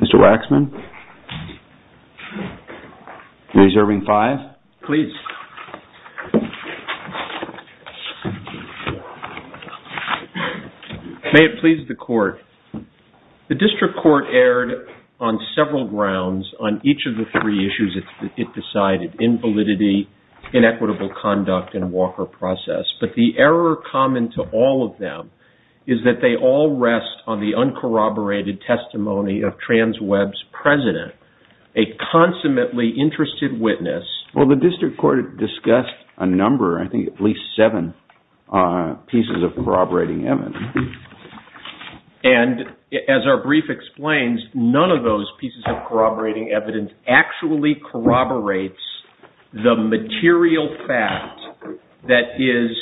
Mr. Waxman, are you reserving five? Please. May it please the court. The district court erred on several grounds on each of the three issues it decided, invalidity, inequitable conduct, and Walker process, but the error common to all of them is that they all rest on the uncorroborated testimony of Transweb's president, a consummately interested witness. Well, the district court discussed a number, I think at least seven, pieces of corroborating evidence. And as our brief explains, none of those pieces of corroborating evidence actually corroborates the material fact that is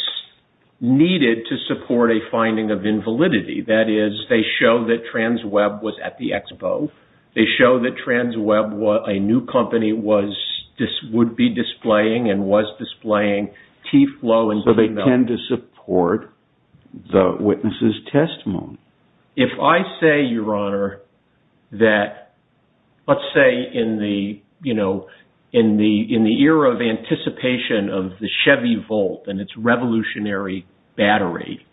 needed to support a finding of invalidity. That is, they show that Transweb was at the expo, they show that Transweb, a new company, was, would be displaying and was displaying T-Flow and T-Milk. So they tend to support the witness's testimony. If I say, Your Honor, that, let's say in the, you know, in the era of anticipation of the Chevy Volt and its revolutionary battery,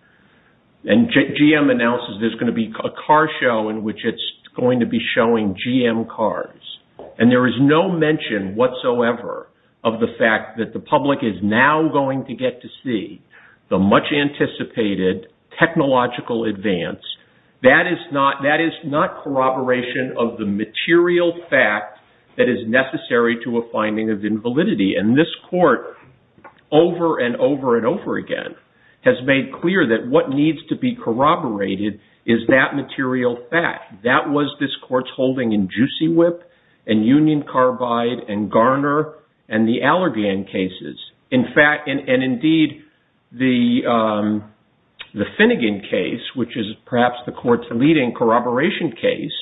and GM announces there's going to be a car show in which it's going to be showing GM cars, and there is no mention whatsoever of the fact that the public is now going to get to see the much-anticipated technological advance, that is not corroboration of the material fact that is necessary to a finding of invalidity. And this court, over and over and over again, has made clear that what needs to be corroborated is that material fact. That was this court's holding in Juicy Whip, and Union Carbide, and Garner, and the Allergan cases. In fact, and indeed, the Finnegan case, which is perhaps the court's leading corroboration case,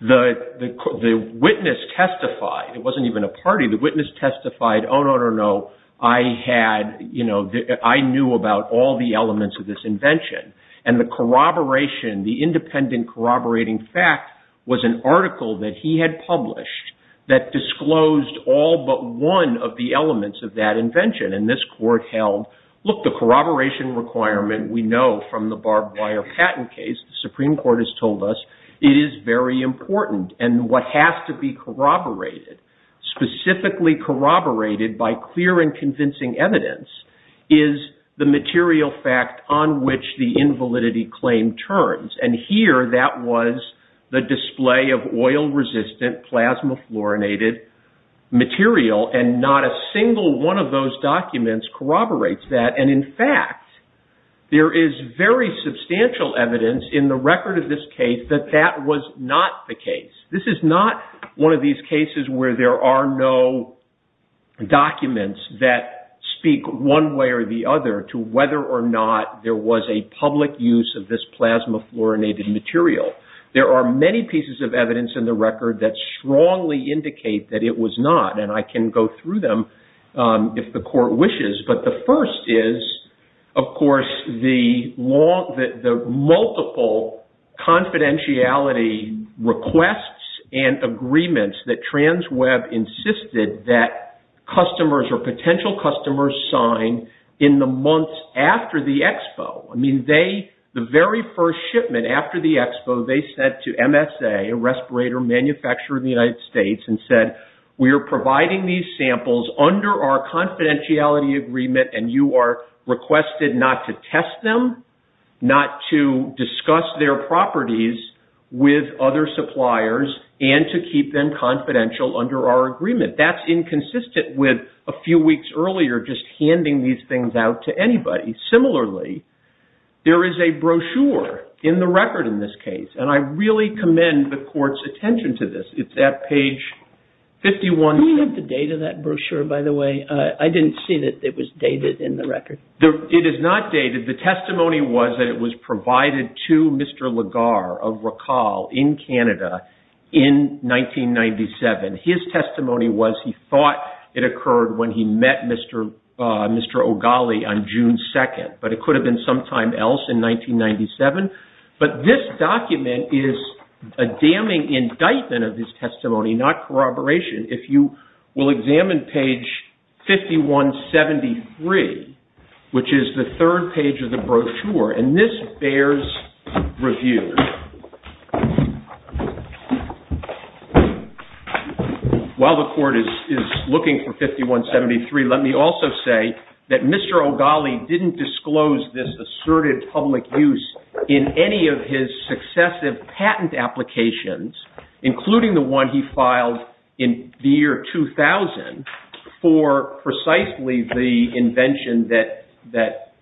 the witness testified, it wasn't even a party, the witness testified, Oh, no, no, no, I had, you know, I knew about all the elements of this invention. And the corroboration, the independent corroborating fact was an article that he had published that disclosed all but one of the elements of that invention. And this court held, look, the corroboration requirement we know from the barbed wire patent case, the Supreme Court has told us, it is very important. And what has to be corroborated, specifically corroborated by clear and convincing evidence, is the material fact on which the invalidity claim turns. And here, that was the display of oil-resistant, plasma-fluorinated material. And not a single one of those documents corroborates that. And in fact, there is very substantial evidence in the record of this case that that was not the case. This is not one of these cases where there are no documents that speak one way or the other to whether or not there was a public use of this plasma-fluorinated material. There are many pieces of evidence in the record that strongly indicate that it was not. And I can go through them if the court wishes. But the first is, of course, the multiple confidentiality requests and agreements that TransWeb insisted that customers or potential customers sign in the months after the expo. I mean, they, the very first shipment after the expo, they said to MSA, a respirator manufacturer in the United States, and said, we are providing these samples under our confidentiality agreement, and you are requested not to test them, not to discuss their properties with other suppliers, and to keep them confidential under our agreement. That's inconsistent with a few weeks earlier just handing these things out to anybody. Similarly, there is a brochure in the record in this case. And I really commend the court's attention to this. It's at page 51. Do we have the date of that brochure, by the way? I didn't see that it was dated in the record. It is not dated. The testimony was that it was provided to Mr. Lagar of Rical in Canada in 1997. His testimony was he thought it occurred when he met Mr. O'Galley on June 2nd. But it could have been sometime else in 1997. But this document is a damning indictment of his testimony, not corroboration. If you will examine page 5173, which is the third page of the brochure, and this bears review. While the court is looking for 5173, let me also say that Mr. O'Galley didn't disclose this assertive public use in any of his successive patent applications, including the one he filed in the year 2000 for precisely the invention that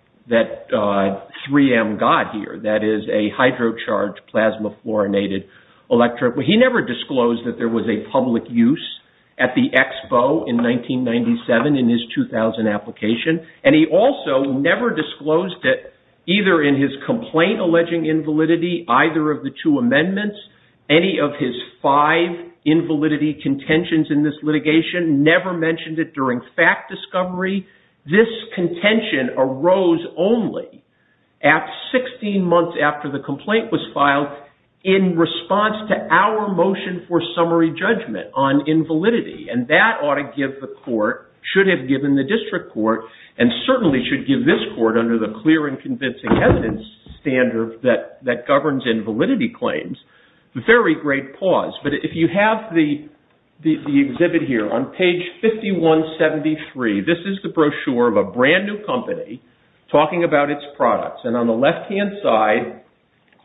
3M got here, that is a hydrocharged plasma fluorinated electrode. But he never disclosed that there was a public use at the Expo in 1997 in his 2000 application. And he also never disclosed that either in his complaint alleging invalidity, either of the two contentions in this litigation, never mentioned it during fact discovery. This contention arose only at 16 months after the complaint was filed in response to our motion for summary judgment on invalidity. And that ought to give the court, should have given the district court, and certainly should give this court under the clear and convincing evidence standard that governs invalidity claims, very great pause. But if you have the exhibit here on page 5173, this is the brochure of a brand new company talking about its products. And on the left-hand side,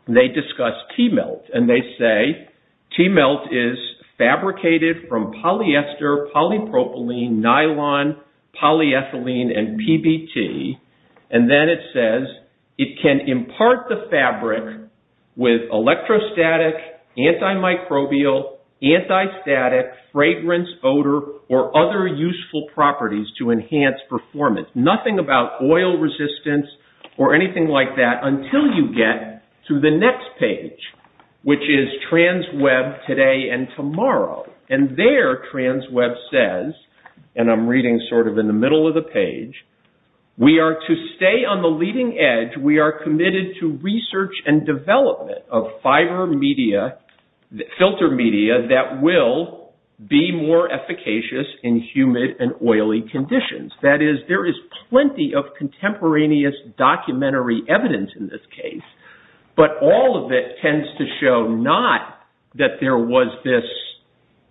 they discuss T-Melt. And they say, T-Melt is fabricated from polyester, polypropylene, nylon, polyethylene, and PBT. And then it says, it can impart the fabric with electrostatic, antimicrobial, antistatic, fragrance, odor, or other useful properties to enhance performance. Nothing about oil resistance or anything like that until you get to the next page, which is TransWeb Today and Tomorrow. And there, TransWeb says, and I'm reading sort of in the middle of the page, we are to stay on the leading edge. We are committed to research and development of fiber media, filter media, that will be more efficacious in humid and oily conditions. That is, there is plenty of contemporaneous documentary evidence in this case, but all of it tends to show not that there was this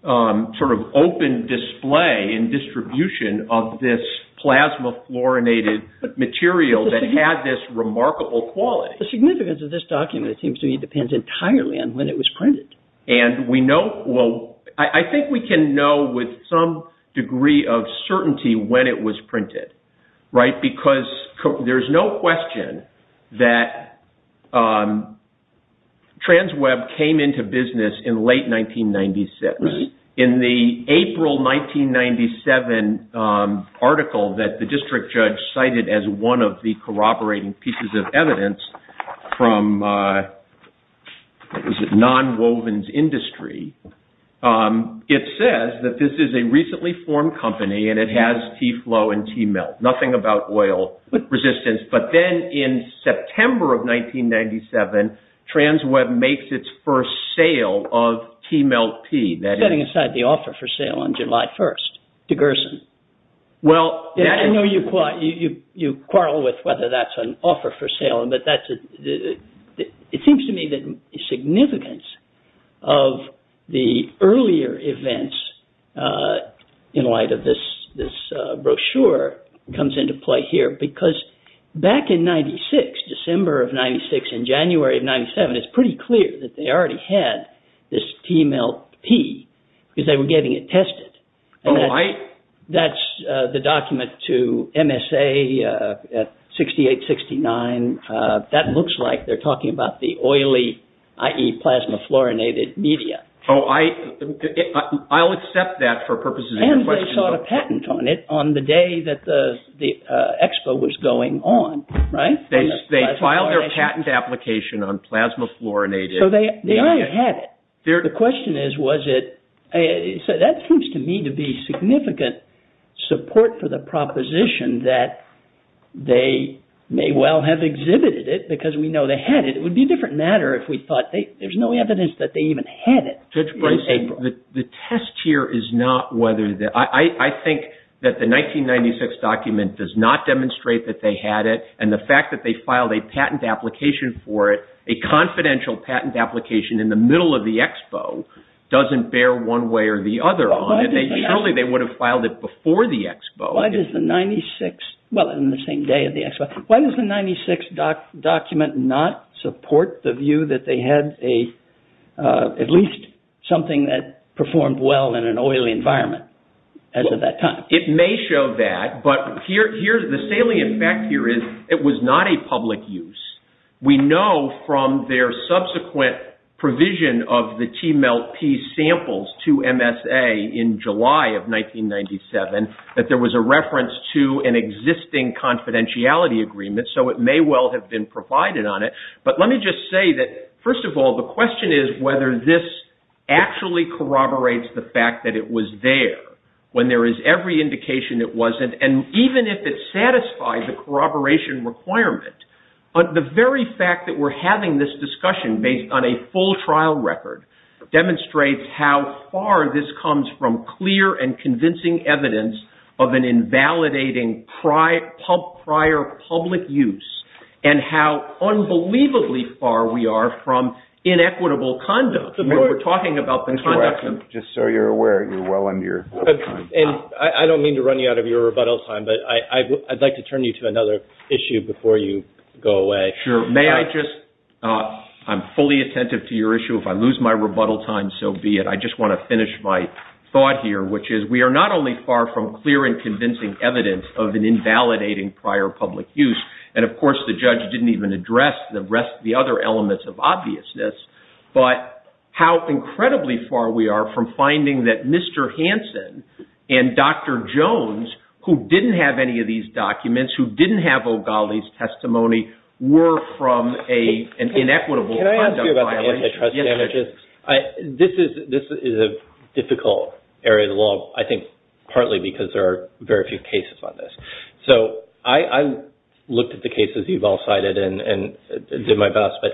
sort of open display and distribution of this plasma-fluorinated material that had this remarkable quality. The significance of this document, it seems to me, depends entirely on when it was printed. And we know, well, I think we can know with some degree of certainty when it was printed, right? Because there's no question that TransWeb came into business in late 1996. In the April 1997 article that the district judge cited as one of the corroborating pieces of evidence from non-wovens industry, it says that this is a recently formed company and it has T-Flow and T-Melt, nothing about oil resistance. But then in September of 1997, TransWeb makes its first sale of T-Melt P. Setting aside the offer for sale on July 1st to Gerson. Well, I know you quarrel with whether that's an offer for sale, but it seems to me that the significance of the earlier events in light of this brochure comes into play here. Because back in 96, December of 96 and January of 97, it's pretty clear that they already had this T-Melt P because they were getting it tested. Oh, I... That's the document to MSA at 68, 69. And that looks like they're talking about the oily, i.e. plasma fluorinated media. Oh, I'll accept that for purposes of your question. And they sought a patent on it on the day that the expo was going on, right? They filed their patent application on plasma fluorinated. So they already had it. The question is, was it... So that seems to me to be significant support for the proposition that they may well have exhibited it because we know they had it. It would be a different matter if we thought there's no evidence that they even had it. Judge Boyce, the test here is not whether... I think that the 1996 document does not demonstrate that they had it. And the fact that they filed a patent application for it, a confidential patent application in the middle of the expo, doesn't bear one way or the other on it. Surely they would have filed it before the expo. Why does the 96... Well, in the same day of the expo. Why does the 96 document not support the view that they had a... at least something that performed well in an oily environment as of that time? It may show that, but the salient fact here is it was not a public use. We know from their subsequent provision of the T-MELTP samples to MSA in July of 1997 that there was a reference to an existing confidentiality agreement. So it may well have been provided on it. But let me just say that, first of all, the question is whether this actually corroborates the fact that it was there when there is every indication it wasn't. And even if it satisfies the corroboration requirement, the very fact that we're having this discussion based on a full trial record demonstrates how far this comes from clear and convincing evidence of an invalidating prior public use and how unbelievably far we are from inequitable conduct. You know, we're talking about the conduct of... Just so you're aware, you're well under your time. And I don't mean to run you out of your rebuttal time, but I'd like to turn you to another issue before you go away. Sure. May I just... I'm fully attentive to your issue. If I lose my rebuttal time, so be it. I just want to finish my thought here, which is we are not only far from clear and convincing evidence of an invalidating prior public use, and of course the judge didn't even address the rest of the other elements of obviousness, but how incredibly far we are from finding that Mr. Hansen and Dr. Jones, who didn't have any of these documents, who didn't have O'Galley's testimony, were from an inequitable conduct violation. Can I ask you about the antitrust damages? This is a difficult area of the law, I think partly because there are very few cases on this. So I looked at the cases you've all cited and did my best, but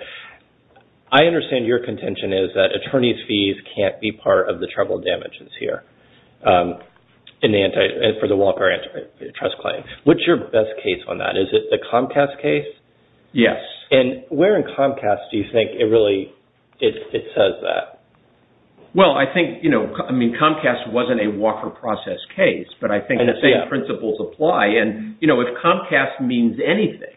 I understand your contention is that attorney's fees can't be part of the trouble damages here for the Walker antitrust claim. What's your best case on that? Is it the Comcast case? Yes. And where in Comcast do you think it really says that? Well, I think Comcast wasn't a Walker process case, but I think the same principles apply. And, you know, if Comcast means anything,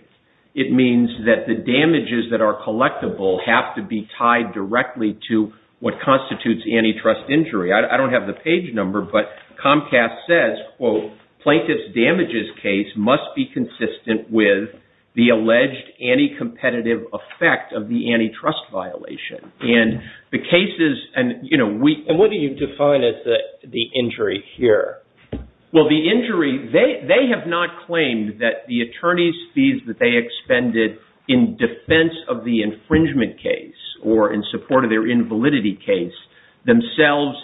it means that the damages that are collectible have to be tied directly to what constitutes antitrust injury. I don't have the page number, but Comcast says, quote, plaintiff's damages case must be consistent with the alleged anti-competitive effect of the antitrust violation. And the cases, and, you know, we... And what do you define as the injury here? Well, the injury, they have not claimed that the attorney's fees that they expended in defense of the infringement case or in support of their invalidity case themselves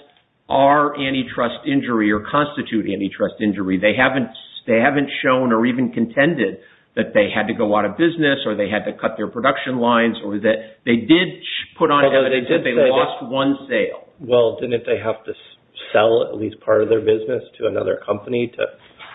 are antitrust injury or constitute antitrust injury. They haven't shown or even contended that they had to go out of business or they had to cut their production lines or that they did put on... Although they did say that... ...that they lost one sale. Well, didn't they have to sell at least part of their business to another company to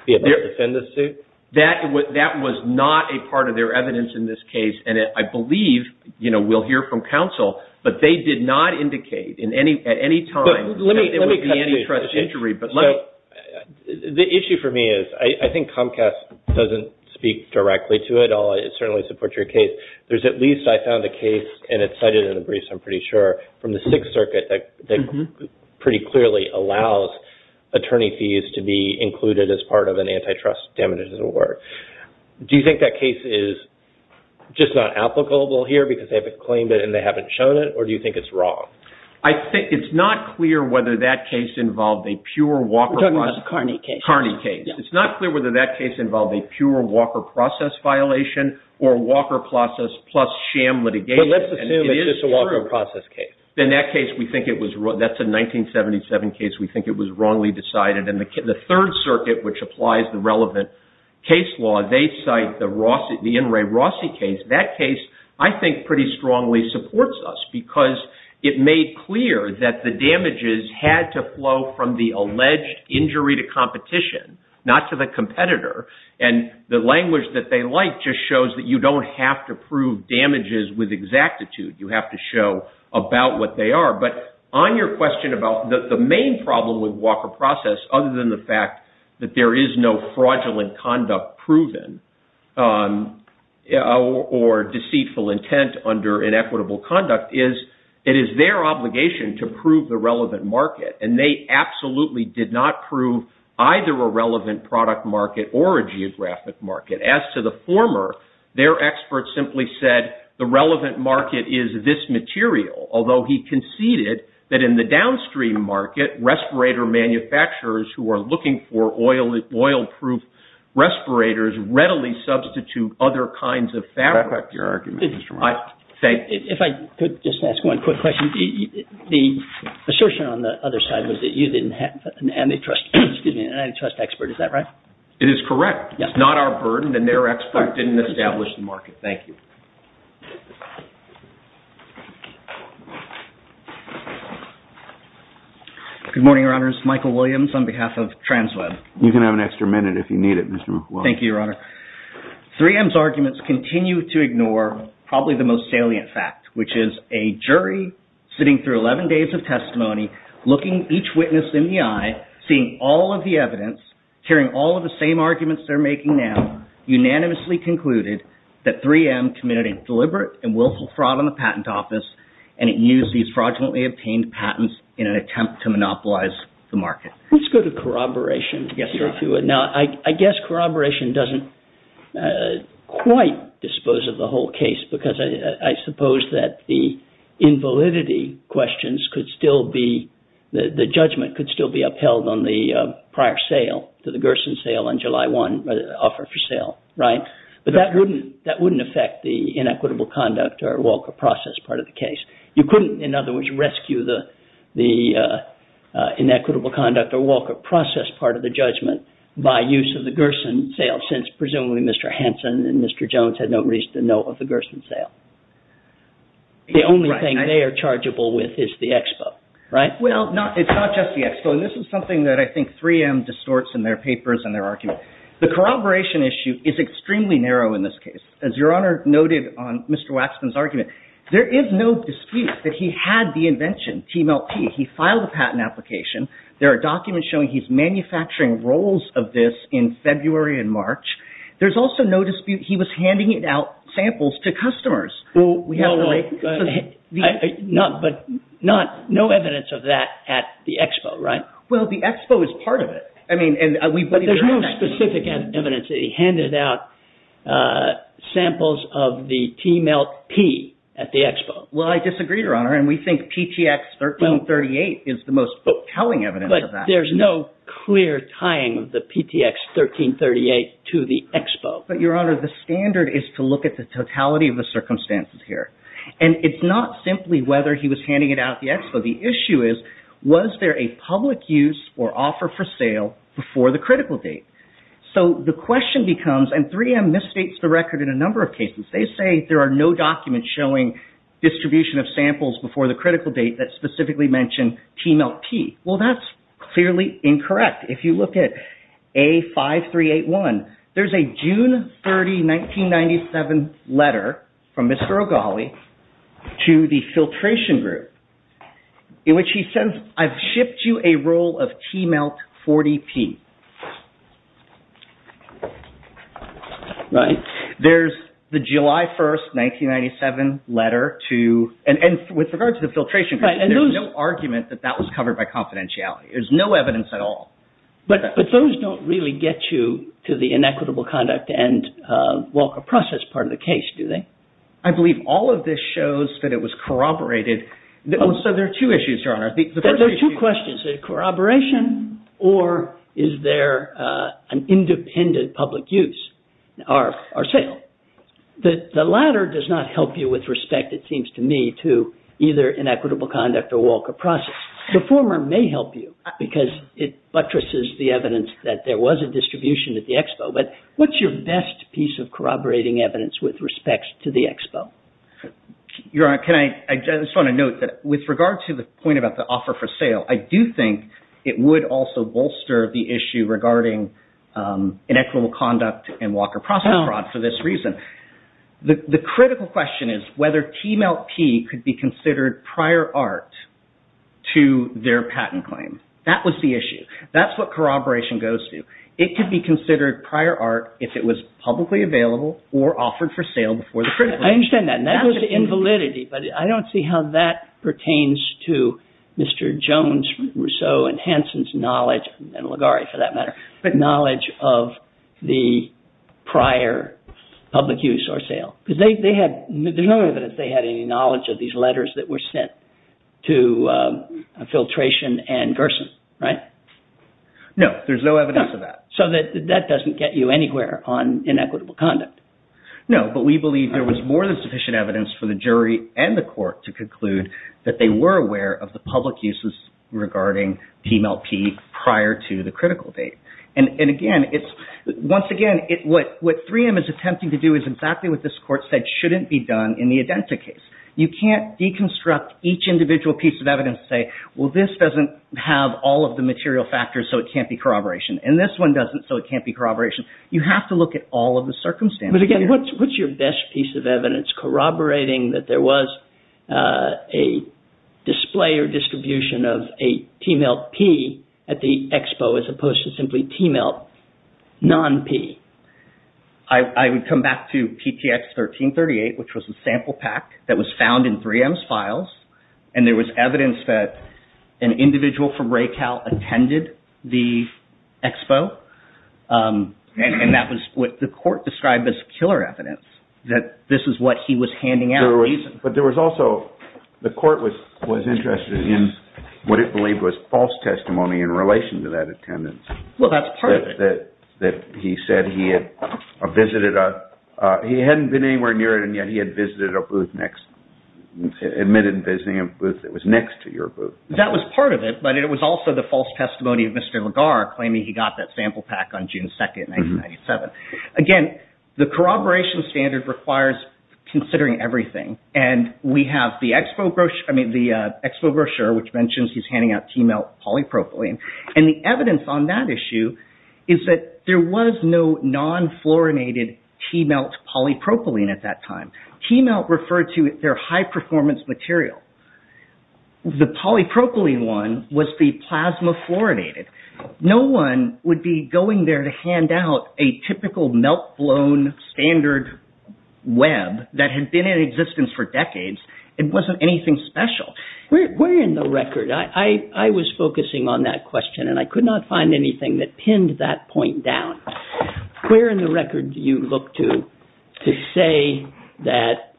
be able to defend the suit? That was not a part of their evidence in this case. And I believe, you know, we'll hear from counsel. But they did not indicate at any time that it would be antitrust injury. The issue for me is, I think Comcast doesn't speak directly to it. I'll certainly support your case. There's at least, I found a case, and it's cited in the briefs, I'm pretty sure, from the Sixth Circuit that pretty clearly allows attorney fees to be included as part of an antitrust damages award. Do you think that case is just not applicable here because they haven't claimed it and they haven't shown it, or do you think it's wrong? I think it's not clear whether that case involved a pure Walker process... You're talking about the Carney case. Carney case. It's not clear whether that case involved a pure Walker process violation or Walker process plus sham litigation. But let's assume it's just a Walker process case. In that case, we think it was wrong. That's a 1977 case. We think it was wrongly decided. And the Third Circuit, which applies the relevant case law, they cite the In re Rossi case. That case, I think, pretty strongly supports us because it made clear that the damages had to flow from the alleged injury to competition, not to the competitor. And the language that they like just shows that you don't have to prove damages with exactitude. You have to show about what they are. But on your question about the main problem with Walker process, other than the fact that there is no fraudulent conduct proven or deceitful intent under inequitable conduct, it is their obligation to prove the relevant market. And they absolutely did not prove either a relevant product market or a geographic market. As to the former, their experts simply said the relevant market is this material, although he conceded that in the downstream market, respirator manufacturers who are looking for oil-proof respirators readily substitute other kinds of fabrics. I like your argument, Mr. Wright. If I could just ask one quick question. The assertion on the other side was that you didn't have an antitrust expert, is that right? It is correct. It's not our burden and their expert didn't establish the market. Thank you. Good morning, Your Honors. Michael Williams on behalf of TransWeb. You can have an extra minute if you need it, Mr. Williams. Thank you, Your Honor. 3M's arguments continue to ignore probably the most salient fact, which is a jury sitting through 11 days of testimony looking each witness in the eye, seeing all of the evidence, hearing all of the same arguments they're making now, unanimously concluded that 3M committed a deliberate and willful fraud on the patent office and it used these fraudulently obtained patents in an attempt to monopolize the market. Let's go to corroboration. I guess corroboration doesn't quite dispose of the whole case because I suppose that the invalidity questions could still be... the judgment could still be upheld on the prior sale, to the Gerson sale on July 1, the offer for sale, right? But that wouldn't affect the inequitable conduct or Walker process part of the case. You couldn't, in other words, rescue the inequitable conduct or Walker process part of the judgment by use of the Gerson sale since presumably Mr. Hansen and Mr. Jones had no reason to know of the Gerson sale. The only thing they are chargeable with is the expo, right? Well, it's not just the expo. This is something that I think 3M distorts in their papers and their argument. The corroboration issue is extremely narrow in this case. As Your Honor noted on Mr. Waxman's argument, there is no dispute that he had the invention, TMLP. He filed a patent application. There are documents showing he's manufacturing roles of this in February and March. There's also no dispute he was handing out samples to customers. But no evidence of that at the expo, right? Well, the expo is part of it. But there's no specific evidence that he handed out samples of the TMLP at the expo. Well, I disagree, Your Honor, and we think PTX 1338 is the most compelling evidence of that. But there's no clear tying of the PTX 1338 to the expo. But, Your Honor, the standard is to look at the totality of the circumstances here. And it's not simply whether he was handing it out at the expo. The issue is, was there a public use or offer for sale before the critical date? So the question becomes, and 3M misstates the record in a number of cases. They say there are no documents showing distribution of samples before the critical date that specifically mention TMLP. Well, that's clearly incorrect. In fact, if you look at A5381, there's a June 30, 1997 letter from Mr. O'Gally to the filtration group in which he says, I've shipped you a roll of TMLP 40P. There's the July 1, 1997 letter to, and with regard to the filtration group, there's no argument that that was covered by confidentiality. There's no evidence at all. But those don't really get you to the inequitable conduct and walk of process part of the case, do they? I believe all of this shows that it was corroborated. So there are two issues, Your Honor. There are two questions. Is it corroboration or is there an independent public use or sale? The latter does not help you with respect, it seems to me, to either inequitable conduct or walk of process. The former may help you because it buttresses the evidence that there was a distribution at the Expo. But what's your best piece of corroborating evidence with respect to the Expo? Your Honor, I just want to note that with regard to the point about the offer for sale, I do think it would also bolster the issue regarding inequitable conduct and walk of process fraud for this reason. The critical question is whether TMLP could be considered prior art to their patent claim. That was the issue. That's what corroboration goes to. It could be considered prior art if it was publicly available or offered for sale before the critical. I understand that and that goes to invalidity but I don't see how that pertains to Mr. Jones, Rousseau and Hanson's knowledge and Ligari, for that matter, knowledge of the prior public use or sale. There's no way that they had any knowledge of these letters that were sent to Filtration and Gerson, right? No, there's no evidence of that. So that doesn't get you anywhere on inequitable conduct? No, but we believe there was more than sufficient evidence for the jury and the court to conclude that they were aware of the public uses regarding TMLP prior to the critical date. And again, once again, what 3M is attempting to do is exactly what this court said shouldn't be done in the IDENTA case. You can't deconstruct each individual piece of evidence and say, well, this doesn't have all of the material factors so it can't be corroboration and this one doesn't so it can't be corroboration. You have to look at all of the circumstances. But again, what's your best piece of evidence corroborating that there was a display or distribution of a TMLP at the Expo as opposed to simply TMLP non-P? I would come back to PTX 1338 which was a sample pack that was found in 3M's files and there was evidence that an individual from RACAL attended the Expo and that was what the court described as killer evidence that this is what he was handing out. But there was also the court was interested in what it believed was false testimony in relation to that attendance. Well, that's part of it. That he said he had visited a, he hadn't been anywhere near it and yet he had visited a booth next admitted visiting a booth that was next to your booth. That was part of it but it was also the false testimony of Mr. Legar claiming he got that sample pack on June 2nd, 1997. Again, the corroboration standard requires considering everything and we have the Expo brochure, I mean the Expo brochure which mentions he's handing out TMLP polypropylene and the evidence on that issue is that there was no non-fluorinated T-Melt polypropylene at that time. T-Melt referred to their high-performance material. The polypropylene one was the plasma fluorinated. No one would be going there to hand out a typical melt-blown standard web that had been in existence for decades. It wasn't anything special. Where in the record? I was focusing on that question and I could not find anything that pinned that point down. Where in the record do you look to to say that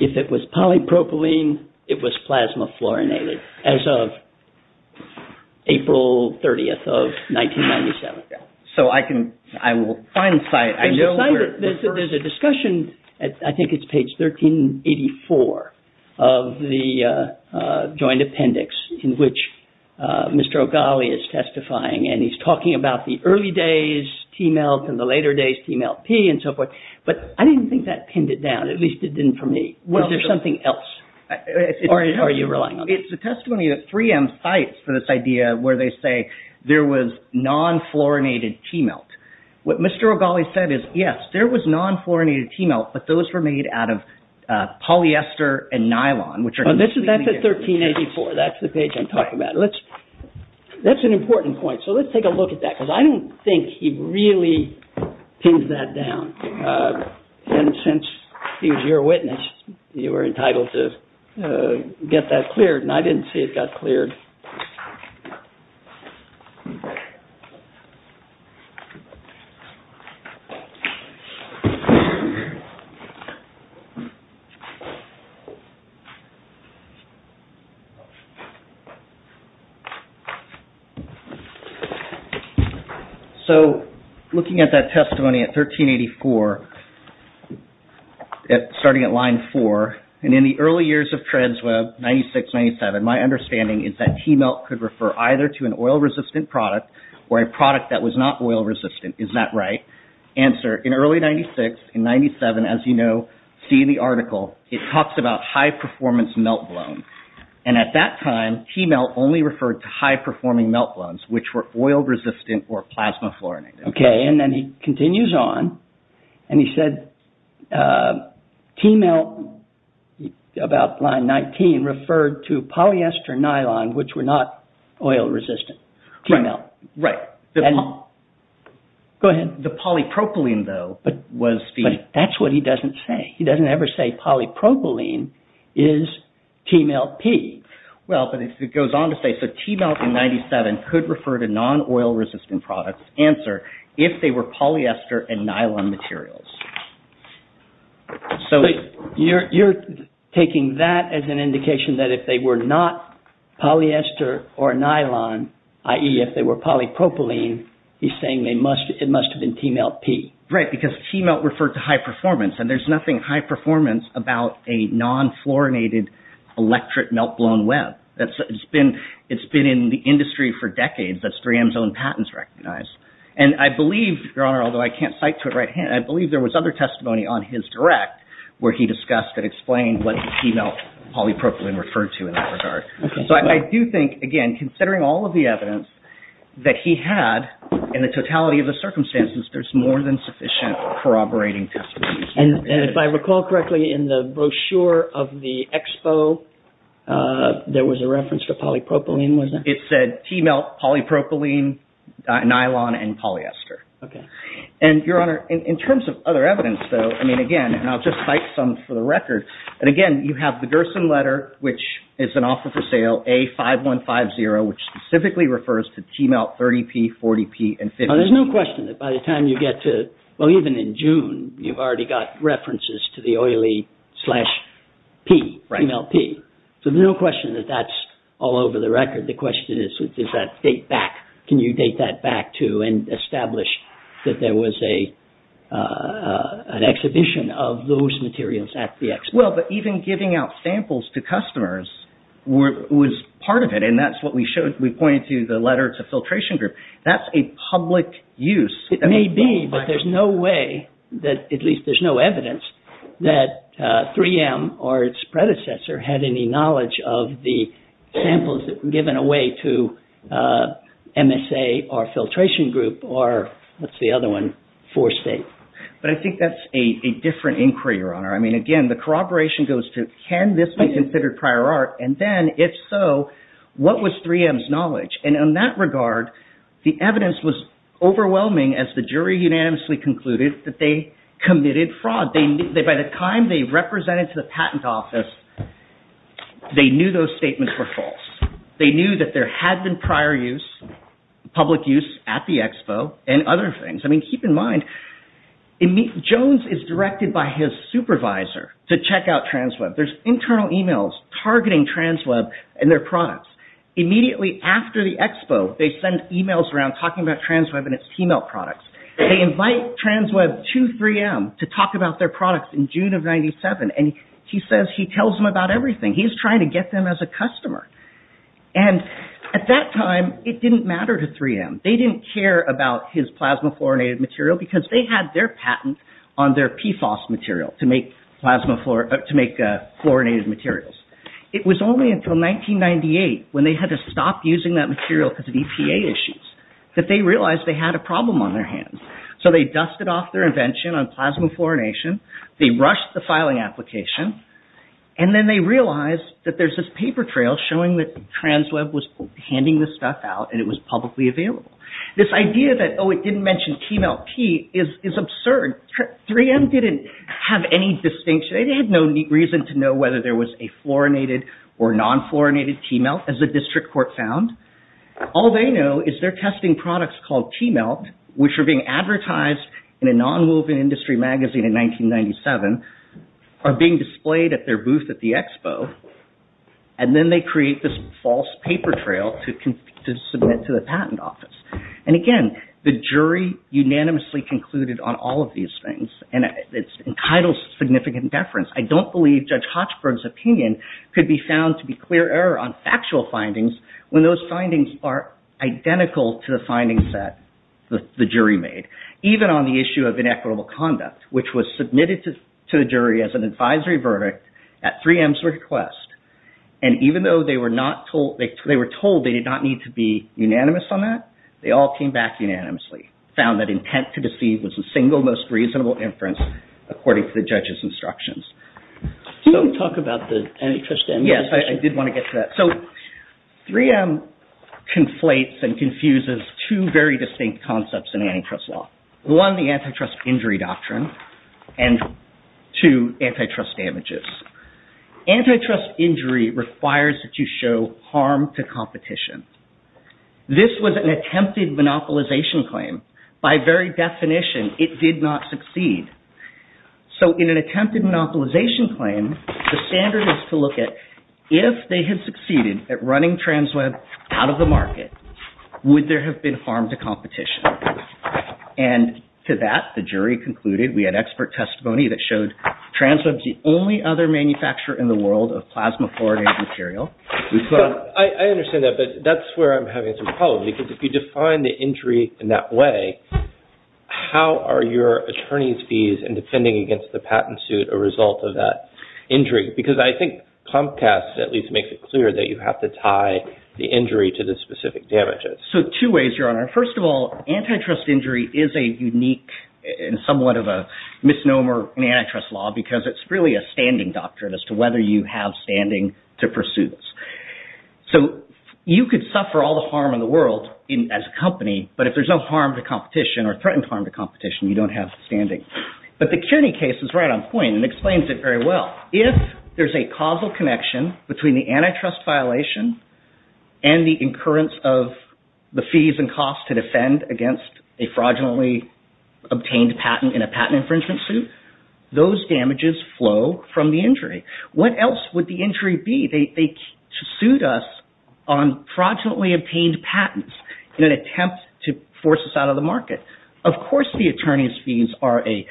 if it was polypropylene it was plasma fluorinated as of April 30th of 1997? I will find the site. There's a discussion I think it's page 1384 of the joint appendix in which Mr. O'Galley is testifying and he's talking about the early days T-Melt and the later days TMLP and so forth. But I didn't think that pinned it down. At least it didn't for me. Was there something else? Or are you relying on me? It's a testimony that 3M cites for this idea where they say there was non-fluorinated T-Melt. What Mr. O'Galley said is yes, there was non-fluorinated T-Melt but those were made out of polyester and nylon. That's at 1384, that's the page I'm talking about. That's an important point so let's take a look at that because I don't think he really pins that down. Since he was your witness you were entitled to get that cleared and I didn't see it got cleared. So, looking at that testimony at 1384 starting at line 4 and in the early years of TransWeb 96-97 my understanding is that T-Melt could refer either to an oil-resistant product or a product that was not oil-resistant. Is that right? Answer, in early 96 and 97 as you know, see the article, it talks about high-performance melt blooms and at that time T-Melt only referred to high-performing melt blooms which were oil-resistant or plasma-fluorinated. Okay, and then he continues on and he said T-Melt about line 19 referred to polyester nylon which were not oil-resistant T-Melt. Go ahead. The polypropylene though was the... But that's what he doesn't say. He doesn't ever say polypropylene is T-Melt P. Well, but it goes on to say so T-Melt in 97 could refer to non-oil-resistant products. Answer, if they were polyester and nylon materials. You're taking that as an indication that if they were not polyester or nylon i.e. if they were polypropylene he's saying it must have been T-Melt P. Right, because T-Melt referred to high-performance and there's nothing high-performance about a non-fluorinated electric melt-blown web. It's been in the industry for decades that 3M's own patents recognize. And I believe, Your Honor, although I can't cite to it right hand, I believe there was other testimony on his direct where he discussed and explained what T-Melt polypropylene referred to in that regard. So I do think, again, considering all of the in the totality of the circumstances there's more than sufficient corroborating testimony. And if I recall correctly in the brochure of the expo there was a reference to polypropylene, wasn't it? It said T-Melt polypropylene nylon and polyester. Okay. And, Your Honor, in terms of other evidence though, I mean again, and I'll just cite some for the record and again, you have the Gerson letter which is an offer for sale A5150 which specifically refers to T-Melt 30P, 40P and 50P. Now there's no question that by the time you get to, well even in June you've already got references to the oily slash P T-Melt P. So there's no question that that's all over the record. The question is, does that date back? Can you date that back to and establish that there was a an exhibition of those materials at the expo? Well, but even giving out samples to customers was part of it and that's what we pointed to the letter to filtration group. That's a public use. It may be but there's no way that at least there's no evidence that 3M or its predecessor had any knowledge of the samples given away to MSA or filtration group or what's the other one? Four State. But I think that's a different inquiry, Your Honor. I mean again, the corroboration goes to can this be considered prior art and then if so, what was 3M's knowledge? And in that regard the evidence was overwhelming as the jury unanimously concluded that they committed fraud. By the time they represented to the patent office they knew those statements were false. They knew that there had been prior use, public use at the expo and other things. I mean keep in mind Jones is directed by his supervisor to check out TransWeb. There's internal emails targeting TransWeb and their products. Immediately after the expo they send emails around talking about TransWeb and its T-Melt products. They invite TransWeb to 3M to talk about their products in June of 97 and he says he tells them about everything. He's trying to get them as a customer. And at that time it didn't matter to 3M. They didn't care about his plasma fluorinated material because they had their patent on their PFOS material to make fluorinated materials. It was only until 1998 when they had to stop using that material because of EPA issues that they realized they had a problem on their hands. So they dusted off their invention on plasma fluorination. They rushed the filing application and then they realized that there's this paper trail showing that TransWeb was handing this stuff out and it was publicly available. This idea that oh it didn't mention T-Melt P is absurd. 3M didn't have any distinction. They had no reason to know whether there was a fluorinated or non-fluorinated T-Melt as the district court found. All they know is they're testing products called T-Melt which are being advertised in a non-moving industry magazine in 1997 are being displayed at their booth at the expo and then they create this false paper trail to submit to the patent office. And again, the jury unanimously concluded on all of these things and it entitles significant deference. I don't believe Judge Hochberg's opinion could be found to be clear error on factual findings when those findings are identical to the findings that the jury made. Even on the issue of inequitable conduct which was submitted to the jury as an advisory verdict at 3M's request and even though they were told they did not need to be unanimous on that, they all came back unanimously, found that intent to deceive was the single most reasonable inference according to the judge's instructions. Don't talk about the antitrust Yes, I did want to get to that. So 3M conflates and confuses two very distinct concepts in antitrust law. One the antitrust injury doctrine and two antitrust damages. Antitrust injury requires that you show harm to competition. This was an attempted monopolization claim. By very definition it did not succeed. So in an attempted monopolization claim the standard is to look at if they had succeeded at running TransWeb out of the market would there have been harm to competition? And to that the jury concluded, we had expert testimony that showed TransWeb is the only other manufacturer in the world of plasma fluoridated material. I understand that but that's where I'm having some problems because if you define the injury in that way how are your attorney's fees in defending against the patent suit a result of that injury? Because I think Comcast at least makes it clear that you have to tie the injury to the specific damages. So two ways, Your Honor. First of all antitrust injury is a unique and somewhat of a misnomer in antitrust law because it's really a standing doctrine as to whether you have standing to pursue this. So you could suffer all the harm in the world as a company but if there's no harm to competition or threatened harm to competition you don't have standing. But the CUNY case is right on point and explains it very well. If there's a causal connection between the antitrust violation and the incurrence of the fees and costs to defend against a fraudulently obtained patent in a patent infringement suit, those damages flow from the injury. What else would the injury be? They sued us on fraudulently obtained patents in an attempt to force us out of the market. Of course the attorney's fees are a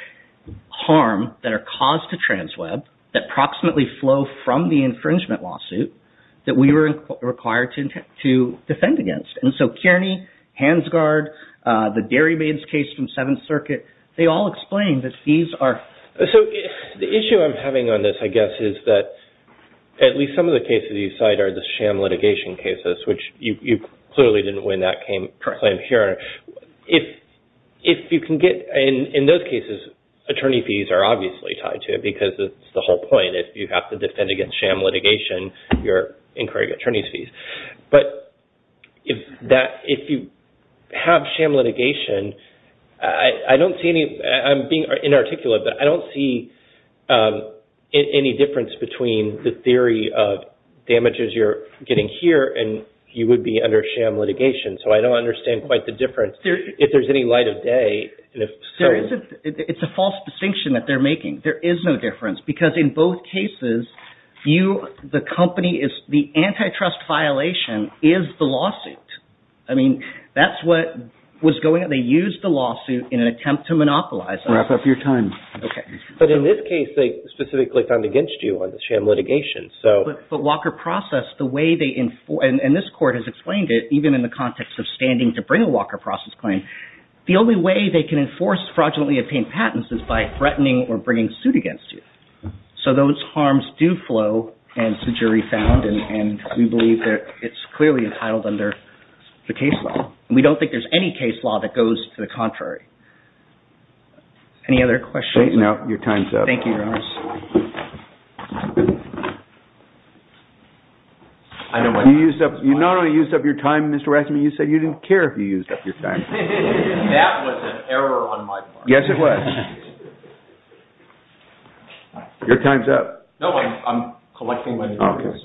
harm that are caused to TransWeb that proximately flow from the infringement lawsuit that we were required to defend against. And so Kearney, Hansgard, the Dairy Maid's case from Seventh Circuit, they all explain that The issue I'm having on this I guess is that at least some of the cases you cite are the sham litigation cases which you clearly didn't win that claim here. If you can get in those cases attorney fees are obviously tied to it because it's the whole point. If you have to defend against sham litigation you're incurring attorney's fees. But if you have sham litigation I don't see any I'm being inarticulate but I don't see any difference between the theory of damages you're getting here and you would be under sham litigation. So I don't understand quite the difference if there's any light of day. It's a false distinction that they're making. There is no difference because in both cases the company is the antitrust violation is the lawsuit. That's what was going on. They used the lawsuit in an attempt to monopolize Wrap up your time. But in this case they specifically found against you on the sham litigation. But Walker Process the way they and this court has explained it even in the context of standing to bring a Walker Process claim the only way they can enforce fraudulently obtained patents is by threatening or bringing suit against you. So those harms do flow and it's a jury found and we believe it's clearly entitled under the case law. We don't think there's any case law that goes to the contrary. Any other questions? Your time's up. You not only used up your time you said you didn't care if you used up your time. That was an error on my part. Yes it was. Your time's up. I'm collecting my notes.